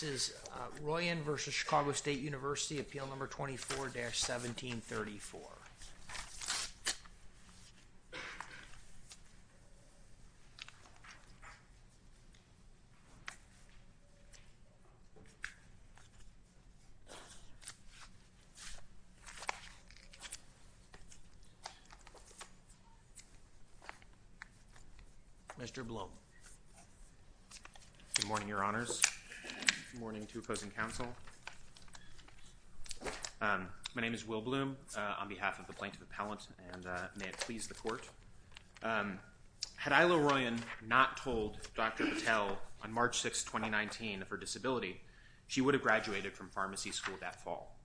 This is Royan v. Chicago State University, Appeal No. 24-1734. Mr. Blum. Good morning, Your Honors. Good morning to opposing counsel. My name is Will Blum on behalf of the Plaintiff Appellant, and may it please the Court. Had Isla Royan not told Dr. Patel on March 6, 2019 of her disability, she would have graduated from pharmacy school that fall.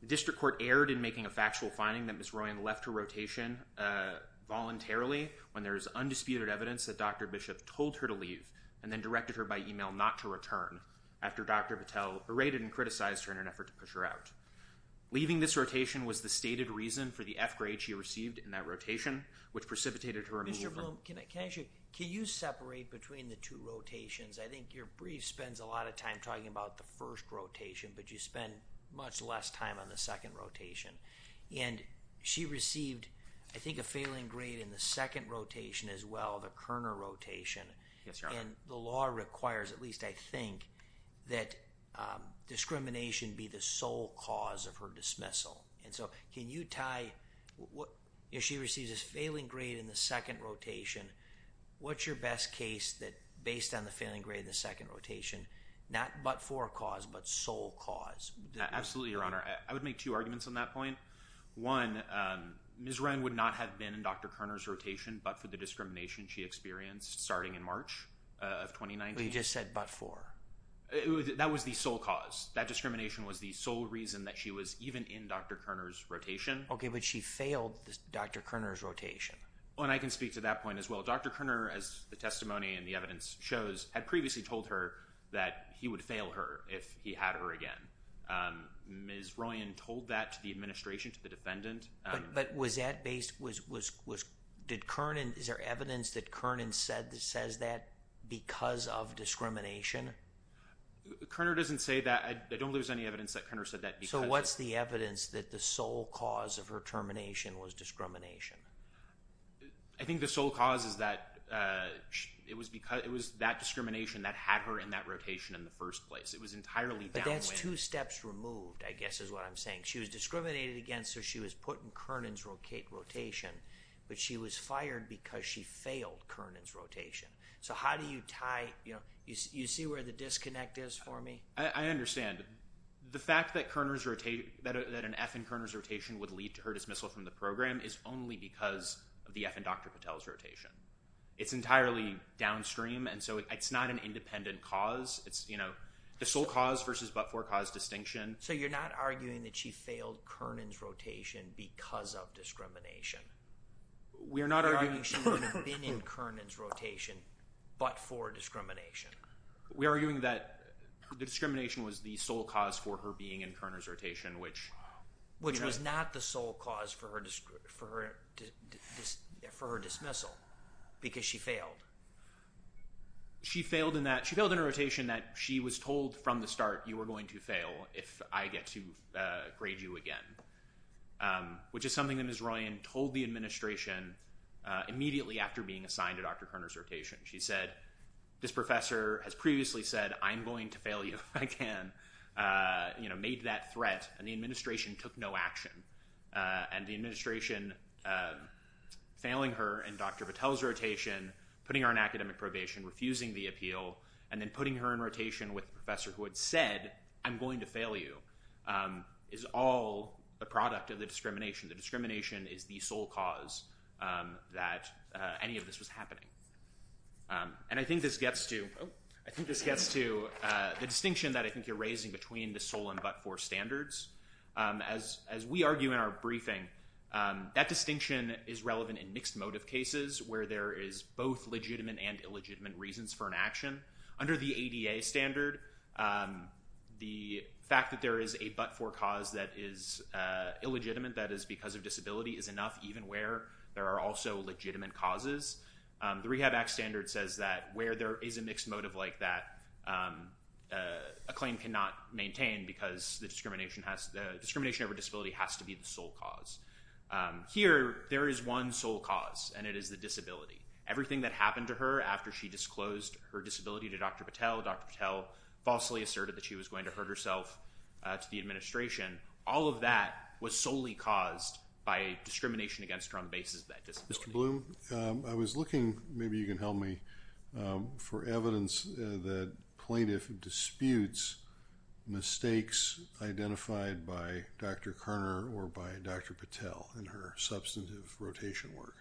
The District Court erred in making a factual finding that Ms. Royan left her rotation voluntarily when there is undisputed evidence that Dr. Bishop told her to leave and then directed her by email not to return after Dr. Patel berated and criticized her in an effort to push her out. Leaving this rotation was the stated reason for the F-grade she received in that rotation, which precipitated her removal. Mr. Blum, can I ask you, can you separate between the two rotations? I think your brief spends a lot of time talking about the first rotation, but you spend much less time on the second rotation. And she received, I think, a failing grade in the second rotation as well, the Kerner rotation. Yes, Your Honor. And the law requires, at least I think, that discrimination be the sole cause of her dismissal. And so, can you tie, if she receives a failing grade in the second rotation, what's your best case that based on the failing grade in the second rotation, not but for cause, but sole cause? Absolutely, Your Honor. I would make two arguments on that point. One, Ms. Ryan would not have been in Dr. Kerner's rotation but for the discrimination she experienced starting in March of 2019. You just said but for. That was the sole cause. That discrimination was the sole reason that she was even in Dr. Kerner's rotation. Okay, but she failed Dr. Kerner's rotation. And I can speak to that point as well. Dr. Kerner, as the testimony and the evidence shows, had previously told her that he would fail her if he had her again. Ms. Ryan told that to the administration, to the defendant. But was that based, was, did Kerner, is there evidence that Kerner says that because of discrimination? Kerner doesn't say that. I don't believe there's any evidence that Kerner said that because of. So what's the evidence that the sole cause of her termination was discrimination? I think the sole cause is that it was because, it was that discrimination that had her in that rotation in the first place. It was entirely downwind. But that's two steps removed, I guess is what I'm saying. She was discriminated against so she was put in Kerner's rotation but she was fired because she failed Kerner's rotation. So how do you tie, you know, you see where the disconnect is for me? I understand. The fact that Kerner's rotation, that an F in Kerner's rotation would lead to her dismissal from the program is only because of the F in Dr. Patel's rotation. It's entirely downstream and so it's not an independent cause. It's, you know, the sole cause versus but for cause distinction. So you're not arguing that she failed Kerner's rotation because of discrimination? We are not arguing… You're arguing she would have been in Kerner's rotation but for discrimination? We are arguing that the discrimination was the sole cause for her being in Kerner's rotation which… Which was not the sole cause for her dismissal because she failed. She failed in that, she failed in a rotation that she was told from the start you were going to fail if I get to grade you again. Which is something that Ms. Ryan told the administration immediately after being assigned to Dr. Kerner's rotation. She said, this professor has previously said I'm going to fail you if I can. You know, made that threat and the administration took no action. And the administration failing her in Dr. Patel's rotation, putting her in academic probation, refusing the appeal, and then putting her in rotation with a professor who had said I'm going to fail you is all a product of the discrimination. The discrimination is the sole cause that any of this was happening. And I think this gets to the distinction that I think you're raising between the sole and but-for standards. As we argue in our briefing, that distinction is relevant in mixed motive cases where there is both legitimate and illegitimate reasons for an action. Under the ADA standard, the fact that there is a but-for cause that is illegitimate, that is because of disability, is enough even where there are also legitimate causes. The Rehab Act standard says that where there is a mixed motive like that, a claim cannot maintain because the discrimination over disability has to be the sole cause. Here, there is one sole cause, and it is the disability. Everything that happened to her after she disclosed her disability to Dr. Patel, Dr. Patel falsely asserted that she was going to hurt herself to the administration, all of that was solely caused by discrimination against her on the basis of that disability. Mr. Bloom, I was looking, maybe you can help me, for evidence that plaintiff disputes mistakes identified by Dr. Karner or by Dr. Patel in her substantive rotation work.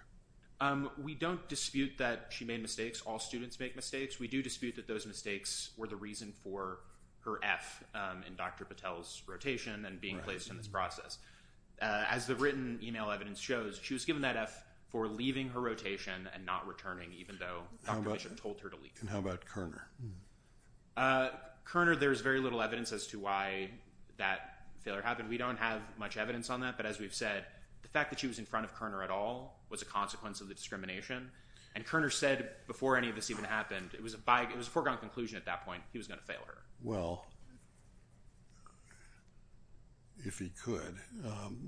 We don't dispute that she made mistakes. All students make mistakes. We do dispute that those mistakes were the reason for her F in Dr. Patel's rotation and being placed in this process. As the written email evidence shows, she was given that F for leaving her rotation and not returning, even though Dr. Bishop told her to leave. How about Karner? Karner, there is very little evidence as to why that failure happened. We don't have much evidence on that, but as we've said, the fact that she was in front of Karner at all was a consequence of the discrimination. And Karner said before any of this even happened, it was a foregone conclusion at that point, he was going to fail her. Well, if he could,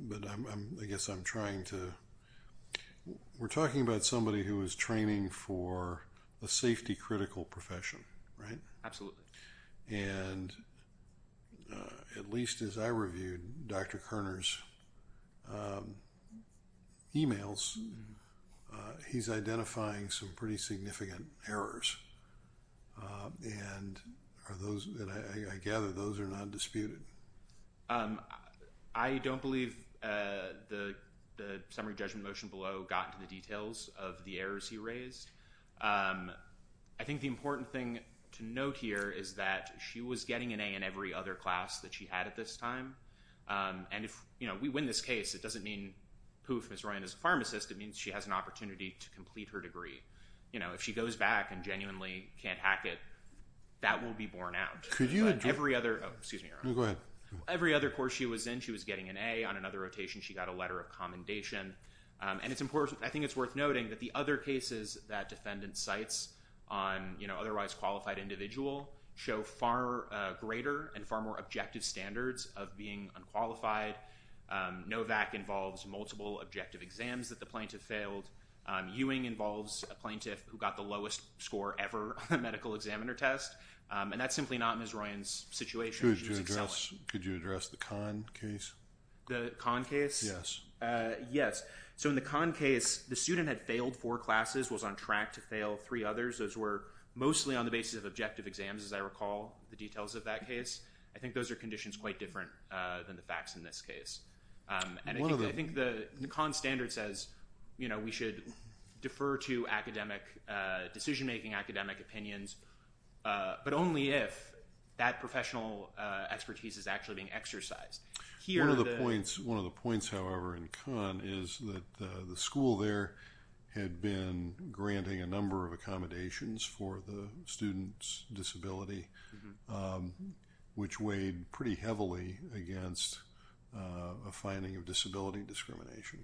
but I guess I'm trying to, we're talking about somebody who was training for a safety critical profession, right? Absolutely. And at least as I reviewed Dr. Karner's emails, he's identifying some pretty significant errors. And I gather those are not disputed. I don't believe the summary judgment motion below got to the details of the errors he raised. I think the important thing to note here is that she was getting an A in every other class that she had at this time. And if we win this case, it doesn't mean poof, Ms. Ryan is a pharmacist. It means she has an opportunity to complete her degree. If she goes back and genuinely can't hack it, that will be borne out. Could you address- Every other, oh, excuse me. No, go ahead. Every other course she was in, she was getting an A. On another rotation, she got a letter of commendation. And it's important, I think it's worth noting that the other cases that defendant cites on otherwise qualified individual show far greater and far more objective standards of being unqualified. Novak involves multiple objective exams that the plaintiff failed. Ewing involves a plaintiff who got the lowest score ever on a medical examiner test. And that's simply not Ms. Ryan's situation. Could you address the Kahn case? The Kahn case? Yes. So in the Kahn case, the student had failed four classes, was on track to fail three others. Those were mostly on the basis of objective exams, as I recall the details of that case. I think those are conditions quite different than the facts in this case. And I think the Kahn standard says we should defer to academic decision-making, academic opinions, but only if that professional expertise is actually being exercised. One of the points, however, in Kahn is that the school there had been granting a number of accommodations for the student's disability, which weighed pretty heavily against a finding of disability discrimination.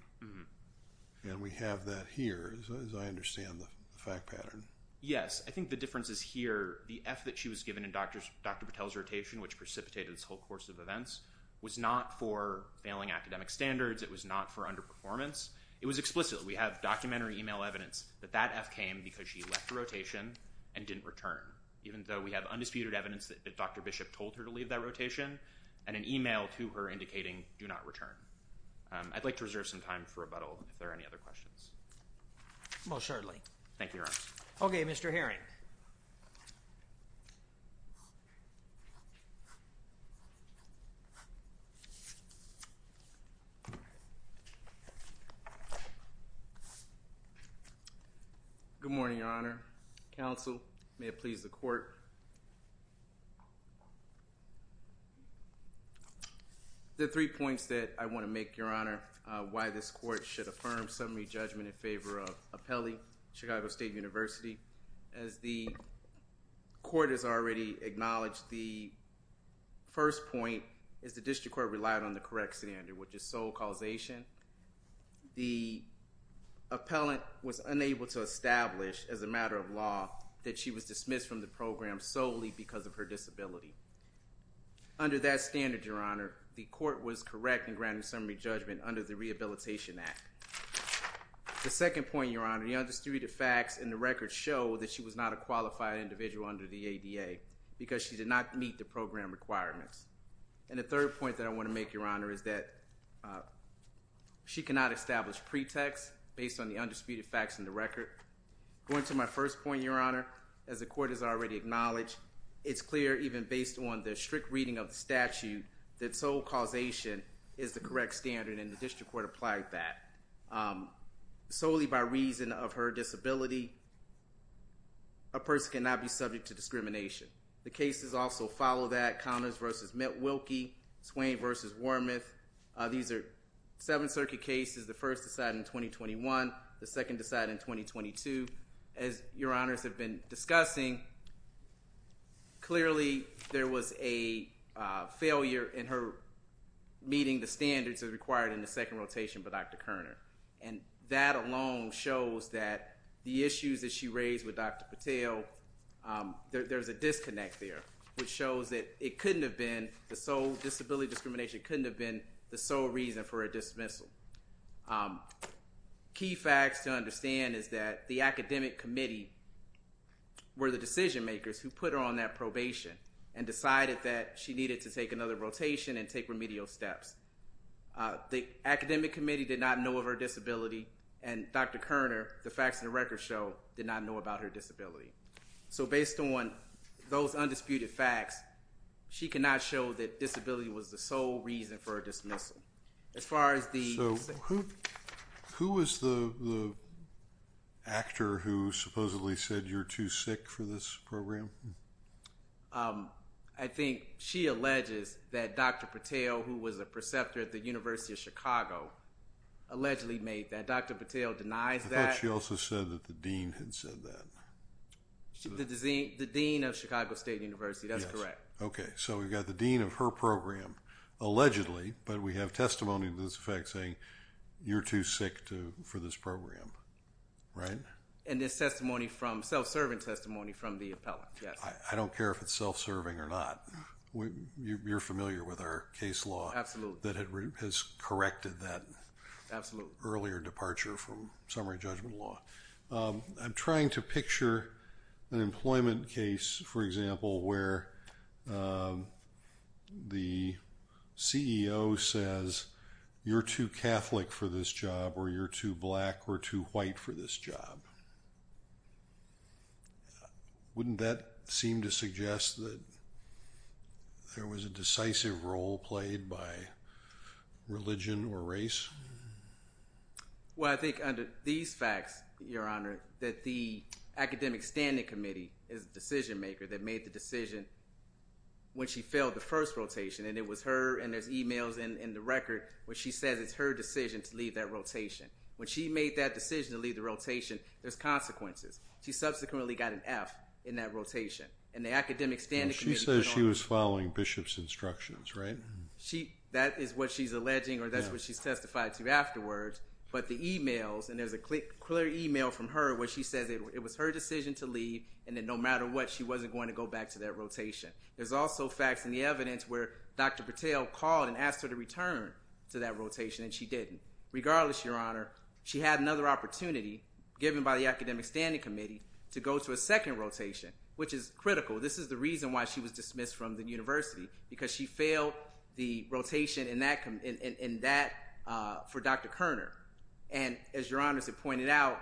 And we have that here, as I understand the fact pattern. Yes, I think the difference is here, the F that she was given in Dr. Patel's rotation, which precipitated this whole course of events, was not for failing academic standards. It was not for underperformance. It was explicit. We have documentary email evidence that that F came because she left the rotation and didn't return, even though we have undisputed evidence that Dr. Bishop told her to leave that rotation and an email to her indicating do not return. I'd like to reserve some time for rebuttal if there are any other questions. Most certainly. Thank you, Your Honor. Okay, Mr. Herring. Good morning, Your Honor. Counsel, may it please the court. The three points that I want to make, Your Honor, why this court should affirm summary judgment in favor of Appelli, Chicago State University. As the court has already acknowledged, the first point is the district court relied on the correct standard, which is sole causation. The appellant was unable to establish, as a matter of law, that she was dismissed from the program solely because of her disability. Under that standard, Your Honor, the court was correct in granting summary judgment under the Rehabilitation Act. The second point, Your Honor, the undisputed facts in the record show that she was not a qualified individual under the ADA because she did not meet the program requirements. And the third point that I want to make, Your Honor, is that she cannot establish pretext based on the undisputed facts in the record. Going to my first point, Your Honor, as the court has already acknowledged, it's clear even based on the strict reading of the statute that sole causation is the correct standard, and the district court applied that. Solely by reason of her disability, a person cannot be subject to discrimination. The cases also follow that. Conners v. Mitt Wilkie, Swain v. Wormuth. These are Seventh Circuit cases. The first decided in 2021. The second decided in 2022. As Your Honors have been discussing, clearly there was a failure in her meeting the standards that are required in the second rotation by Dr. Koerner. And that alone shows that the issues that she raised with Dr. Patel, there's a disconnect there, which shows that it couldn't have been the sole disability discrimination, couldn't have been the sole reason for a dismissal. Key facts to understand is that the academic committee were the decision makers who put her on that probation and decided that she needed to take another rotation and take remedial steps. The academic committee did not know of her disability, and Dr. Koerner, the facts of the record show, did not know about her disability. So based on those undisputed facts, she cannot show that disability was the sole reason for a dismissal. So who was the actor who supposedly said you're too sick for this program? I think she alleges that Dr. Patel, who was a preceptor at the University of Chicago, allegedly made that. Dr. Patel denies that. I thought she also said that the dean had said that. The dean of Chicago State University, that's correct. Okay, so we've got the dean of her program allegedly, but we have testimony to this effect saying you're too sick for this program, right? And it's self-serving testimony from the appellant, yes. I don't care if it's self-serving or not. You're familiar with our case law that has corrected that earlier departure from summary judgment law. I'm trying to picture an employment case, for example, where the CEO says you're too Catholic for this job or you're too black or too white for this job. Wouldn't that seem to suggest that there was a decisive role played by religion or race? Well, I think under these facts, Your Honor, that the academic standing committee is the decision maker that made the decision when she failed the first rotation. And it was her, and there's e-mails in the record where she says it's her decision to leave that rotation. When she made that decision to leave the rotation, there's consequences. She subsequently got an F in that rotation. And the academic standing committee put on – She says she was following Bishop's instructions, right? That is what she's alleging or that's what she's testified to afterwards. But the e-mails, and there's a clear e-mail from her where she says it was her decision to leave and that no matter what, she wasn't going to go back to that rotation. There's also facts in the evidence where Dr. Patel called and asked her to return to that rotation, and she didn't. Regardless, Your Honor, she had another opportunity given by the academic standing committee to go to a second rotation, which is critical. This is the reason why she was dismissed from the university because she failed the rotation in that – for Dr. Koerner. And as Your Honor has pointed out,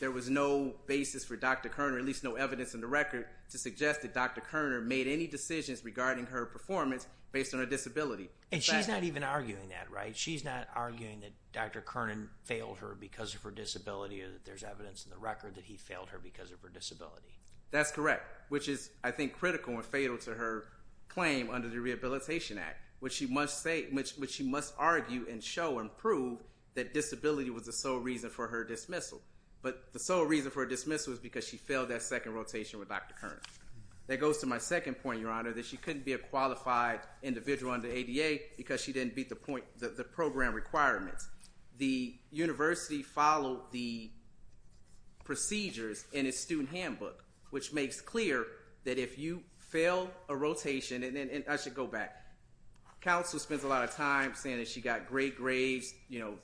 there was no basis for Dr. Koerner, at least no evidence in the record, to suggest that Dr. Koerner made any decisions regarding her performance based on her disability. And she's not even arguing that, right? She's not arguing that Dr. Koerner failed her because of her disability or that there's evidence in the record that he failed her because of her disability. That's correct, which is, I think, critical and fatal to her claim under the Rehabilitation Act, which she must argue and show and prove that disability was the sole reason for her dismissal. But the sole reason for her dismissal is because she failed that second rotation with Dr. Koerner. That goes to my second point, Your Honor, that she couldn't be a qualified individual under ADA because she didn't meet the program requirements. The university followed the procedures in its student handbook, which makes clear that if you fail a rotation – and I should go back. Counsel spends a lot of time saying that she got great grades, you know,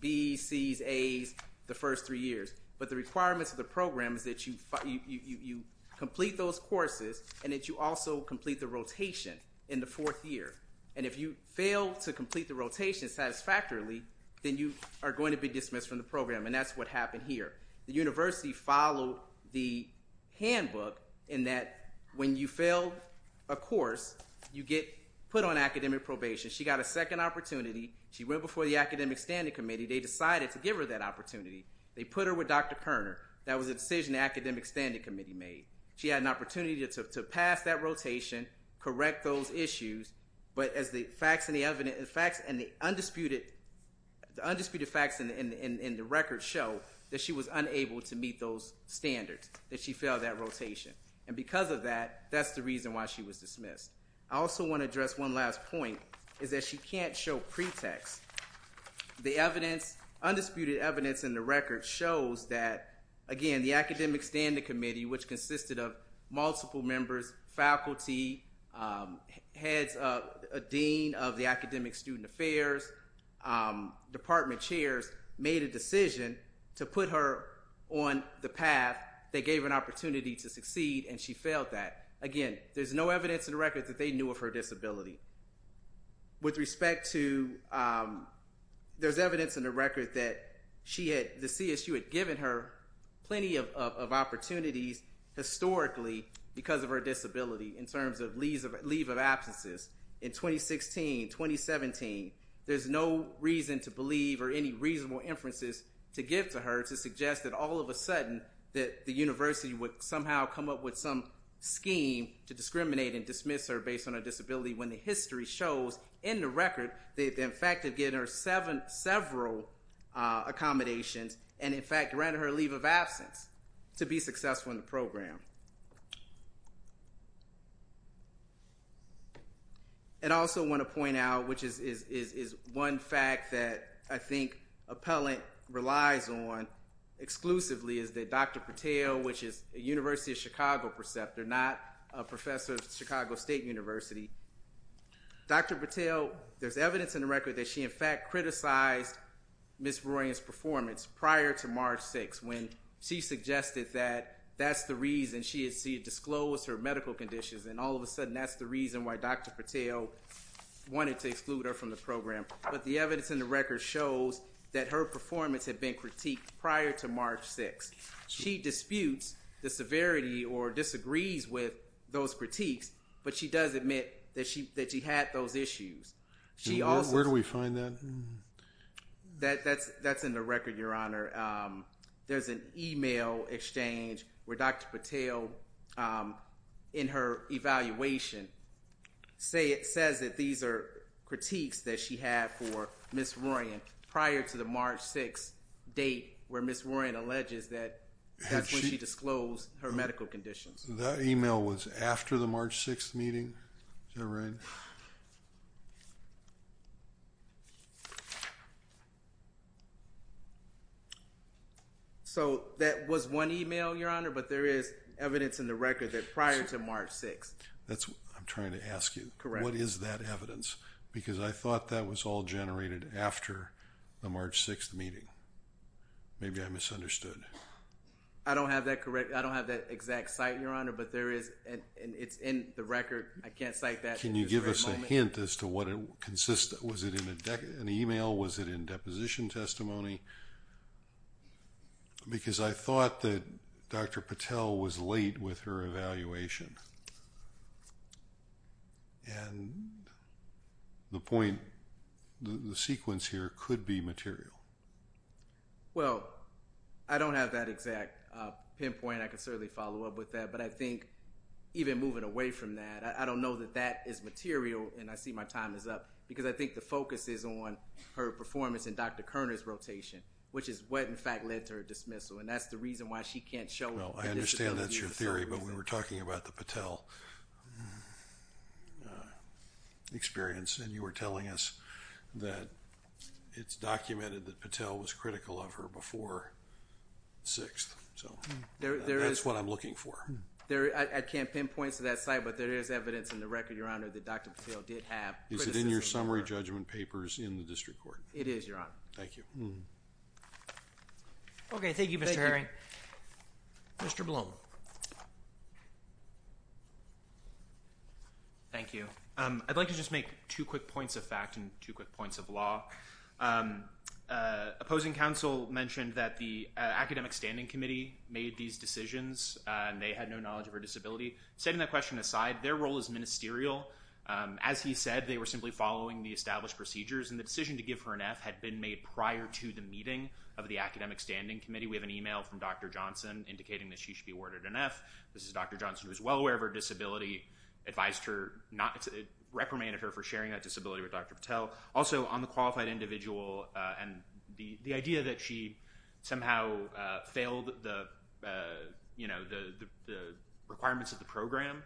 Bs, Cs, As the first three years. But the requirements of the program is that you complete those courses and that you also complete the rotation in the fourth year. And if you fail to complete the rotation satisfactorily, then you are going to be dismissed from the program, and that's what happened here. The university followed the handbook in that when you fail a course, you get put on academic probation. She got a second opportunity. She went before the Academic Standing Committee. They decided to give her that opportunity. They put her with Dr. Koerner. That was a decision the Academic Standing Committee made. She had an opportunity to pass that rotation, correct those issues. But as the facts and the undisputed facts in the record show, that she was unable to meet those standards, that she failed that rotation. And because of that, that's the reason why she was dismissed. I also want to address one last point, is that she can't show pretext. The evidence, undisputed evidence in the record shows that, again, the Academic Standing Committee, which consisted of multiple members, faculty, heads, a dean of the Academic Student Affairs, department chairs, made a decision to put her on the path that gave her an opportunity to succeed, and she failed that. Again, there's no evidence in the record that they knew of her disability. With respect to, there's evidence in the record that she had, the CSU had given her plenty of opportunities historically because of her disability, in terms of leave of absences. In 2016, 2017, there's no reason to believe or any reasonable inferences to give to her to suggest that all of a sudden, that the university would somehow come up with some scheme to discriminate and dismiss her based on her disability, when the history shows, in the record, they've in fact have given her several accommodations, and in fact granted her a leave of absence to be successful in the program. And I also want to point out, which is one fact that I think Appellant relies on exclusively, is that Dr. Patel, which is a University of Chicago preceptor, not a professor at Chicago State University, Dr. Patel, there's evidence in the record that she in fact criticized Ms. Beroyan's performance prior to March 6th, when she suggested that that's the reason she had disclosed her medical conditions, and all of a sudden that's the reason why Dr. Patel wanted to exclude her from the program. But the evidence in the record shows that her performance had been critiqued prior to March 6th. She disputes the severity or disagrees with those critiques, but she does admit that she had those issues. Where do we find that? That's in the record, Your Honor. There's an e-mail exchange where Dr. Patel, in her evaluation, says that these are critiques that she had for Ms. Beroyan prior to the March 6th date, where Ms. Beroyan alleges that that's when she disclosed her medical conditions. That e-mail was after the March 6th meeting, is that right? So that was one e-mail, Your Honor, but there is evidence in the record that prior to March 6th. That's what I'm trying to ask you. Correct. What is that evidence? Because I thought that was all generated after the March 6th meeting. Maybe I misunderstood. I don't have that exact site, Your Honor, but it's in the record. I can't cite that at this very moment. Can you give us a hint as to what it consists of? Was it in an e-mail? Was it in deposition testimony? Because I thought that Dr. Patel was late with her evaluation. And the sequence here could be material. Well, I don't have that exact pinpoint. I can certainly follow up with that, but I think even moving away from that, I don't know that that is material, and I see my time is up, because I think the focus is on her performance in Dr. Koerner's rotation, which is what, in fact, led to her dismissal. And that's the reason why she can't show it. Well, I understand that's your theory, but we were talking about the Patel experience, and you were telling us that it's documented that Patel was critical of her before 6th. So that's what I'm looking for. I can't pin points to that site, but there is evidence in the record, Your Honor, that Dr. Patel did have criticism of her. Is it in your summary judgment papers in the district court? It is, Your Honor. Thank you. Okay, thank you, Mr. Herring. Mr. Blum. Thank you. I'd like to just make two quick points of fact and two quick points of law. Opposing counsel mentioned that the academic standing committee made these decisions, and they had no knowledge of her disability. Setting that question aside, their role is ministerial. As he said, they were simply following the established procedures, and the decision to give her an F had been made prior to the meeting of the academic standing committee. We have an e-mail from Dr. Johnson indicating that she should be awarded an F. This is Dr. Johnson, who is well aware of her disability, and we advised her, reprimanded her for sharing that disability with Dr. Patel. Also, on the qualified individual and the idea that she somehow failed the requirements of the program,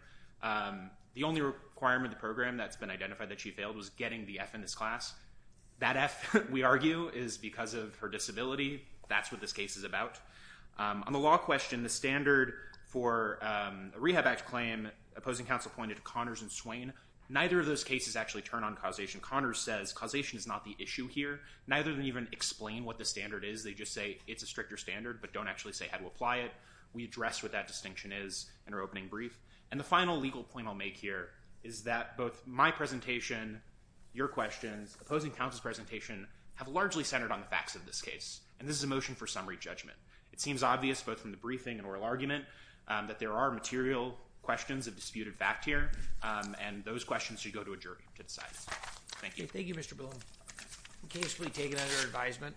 the only requirement of the program that's been identified that she failed was getting the F in this class. That F, we argue, is because of her disability. That's what this case is about. On the law question, the standard for a rehab act claim, opposing counsel pointed to Connors and Swain. Neither of those cases actually turn on causation. Connors says causation is not the issue here. Neither of them even explain what the standard is. They just say it's a stricter standard but don't actually say how to apply it. We address what that distinction is in our opening brief. And the final legal point I'll make here is that both my presentation, your questions, opposing counsel's presentation have largely centered on the facts of this case, and this is a motion for summary judgment. It seems obvious, both from the briefing and oral argument, that there are material questions of disputed fact here, and those questions should go to a jury to decide. Thank you. Thank you, Mr. Bloom. We can't just take it out of your advisement.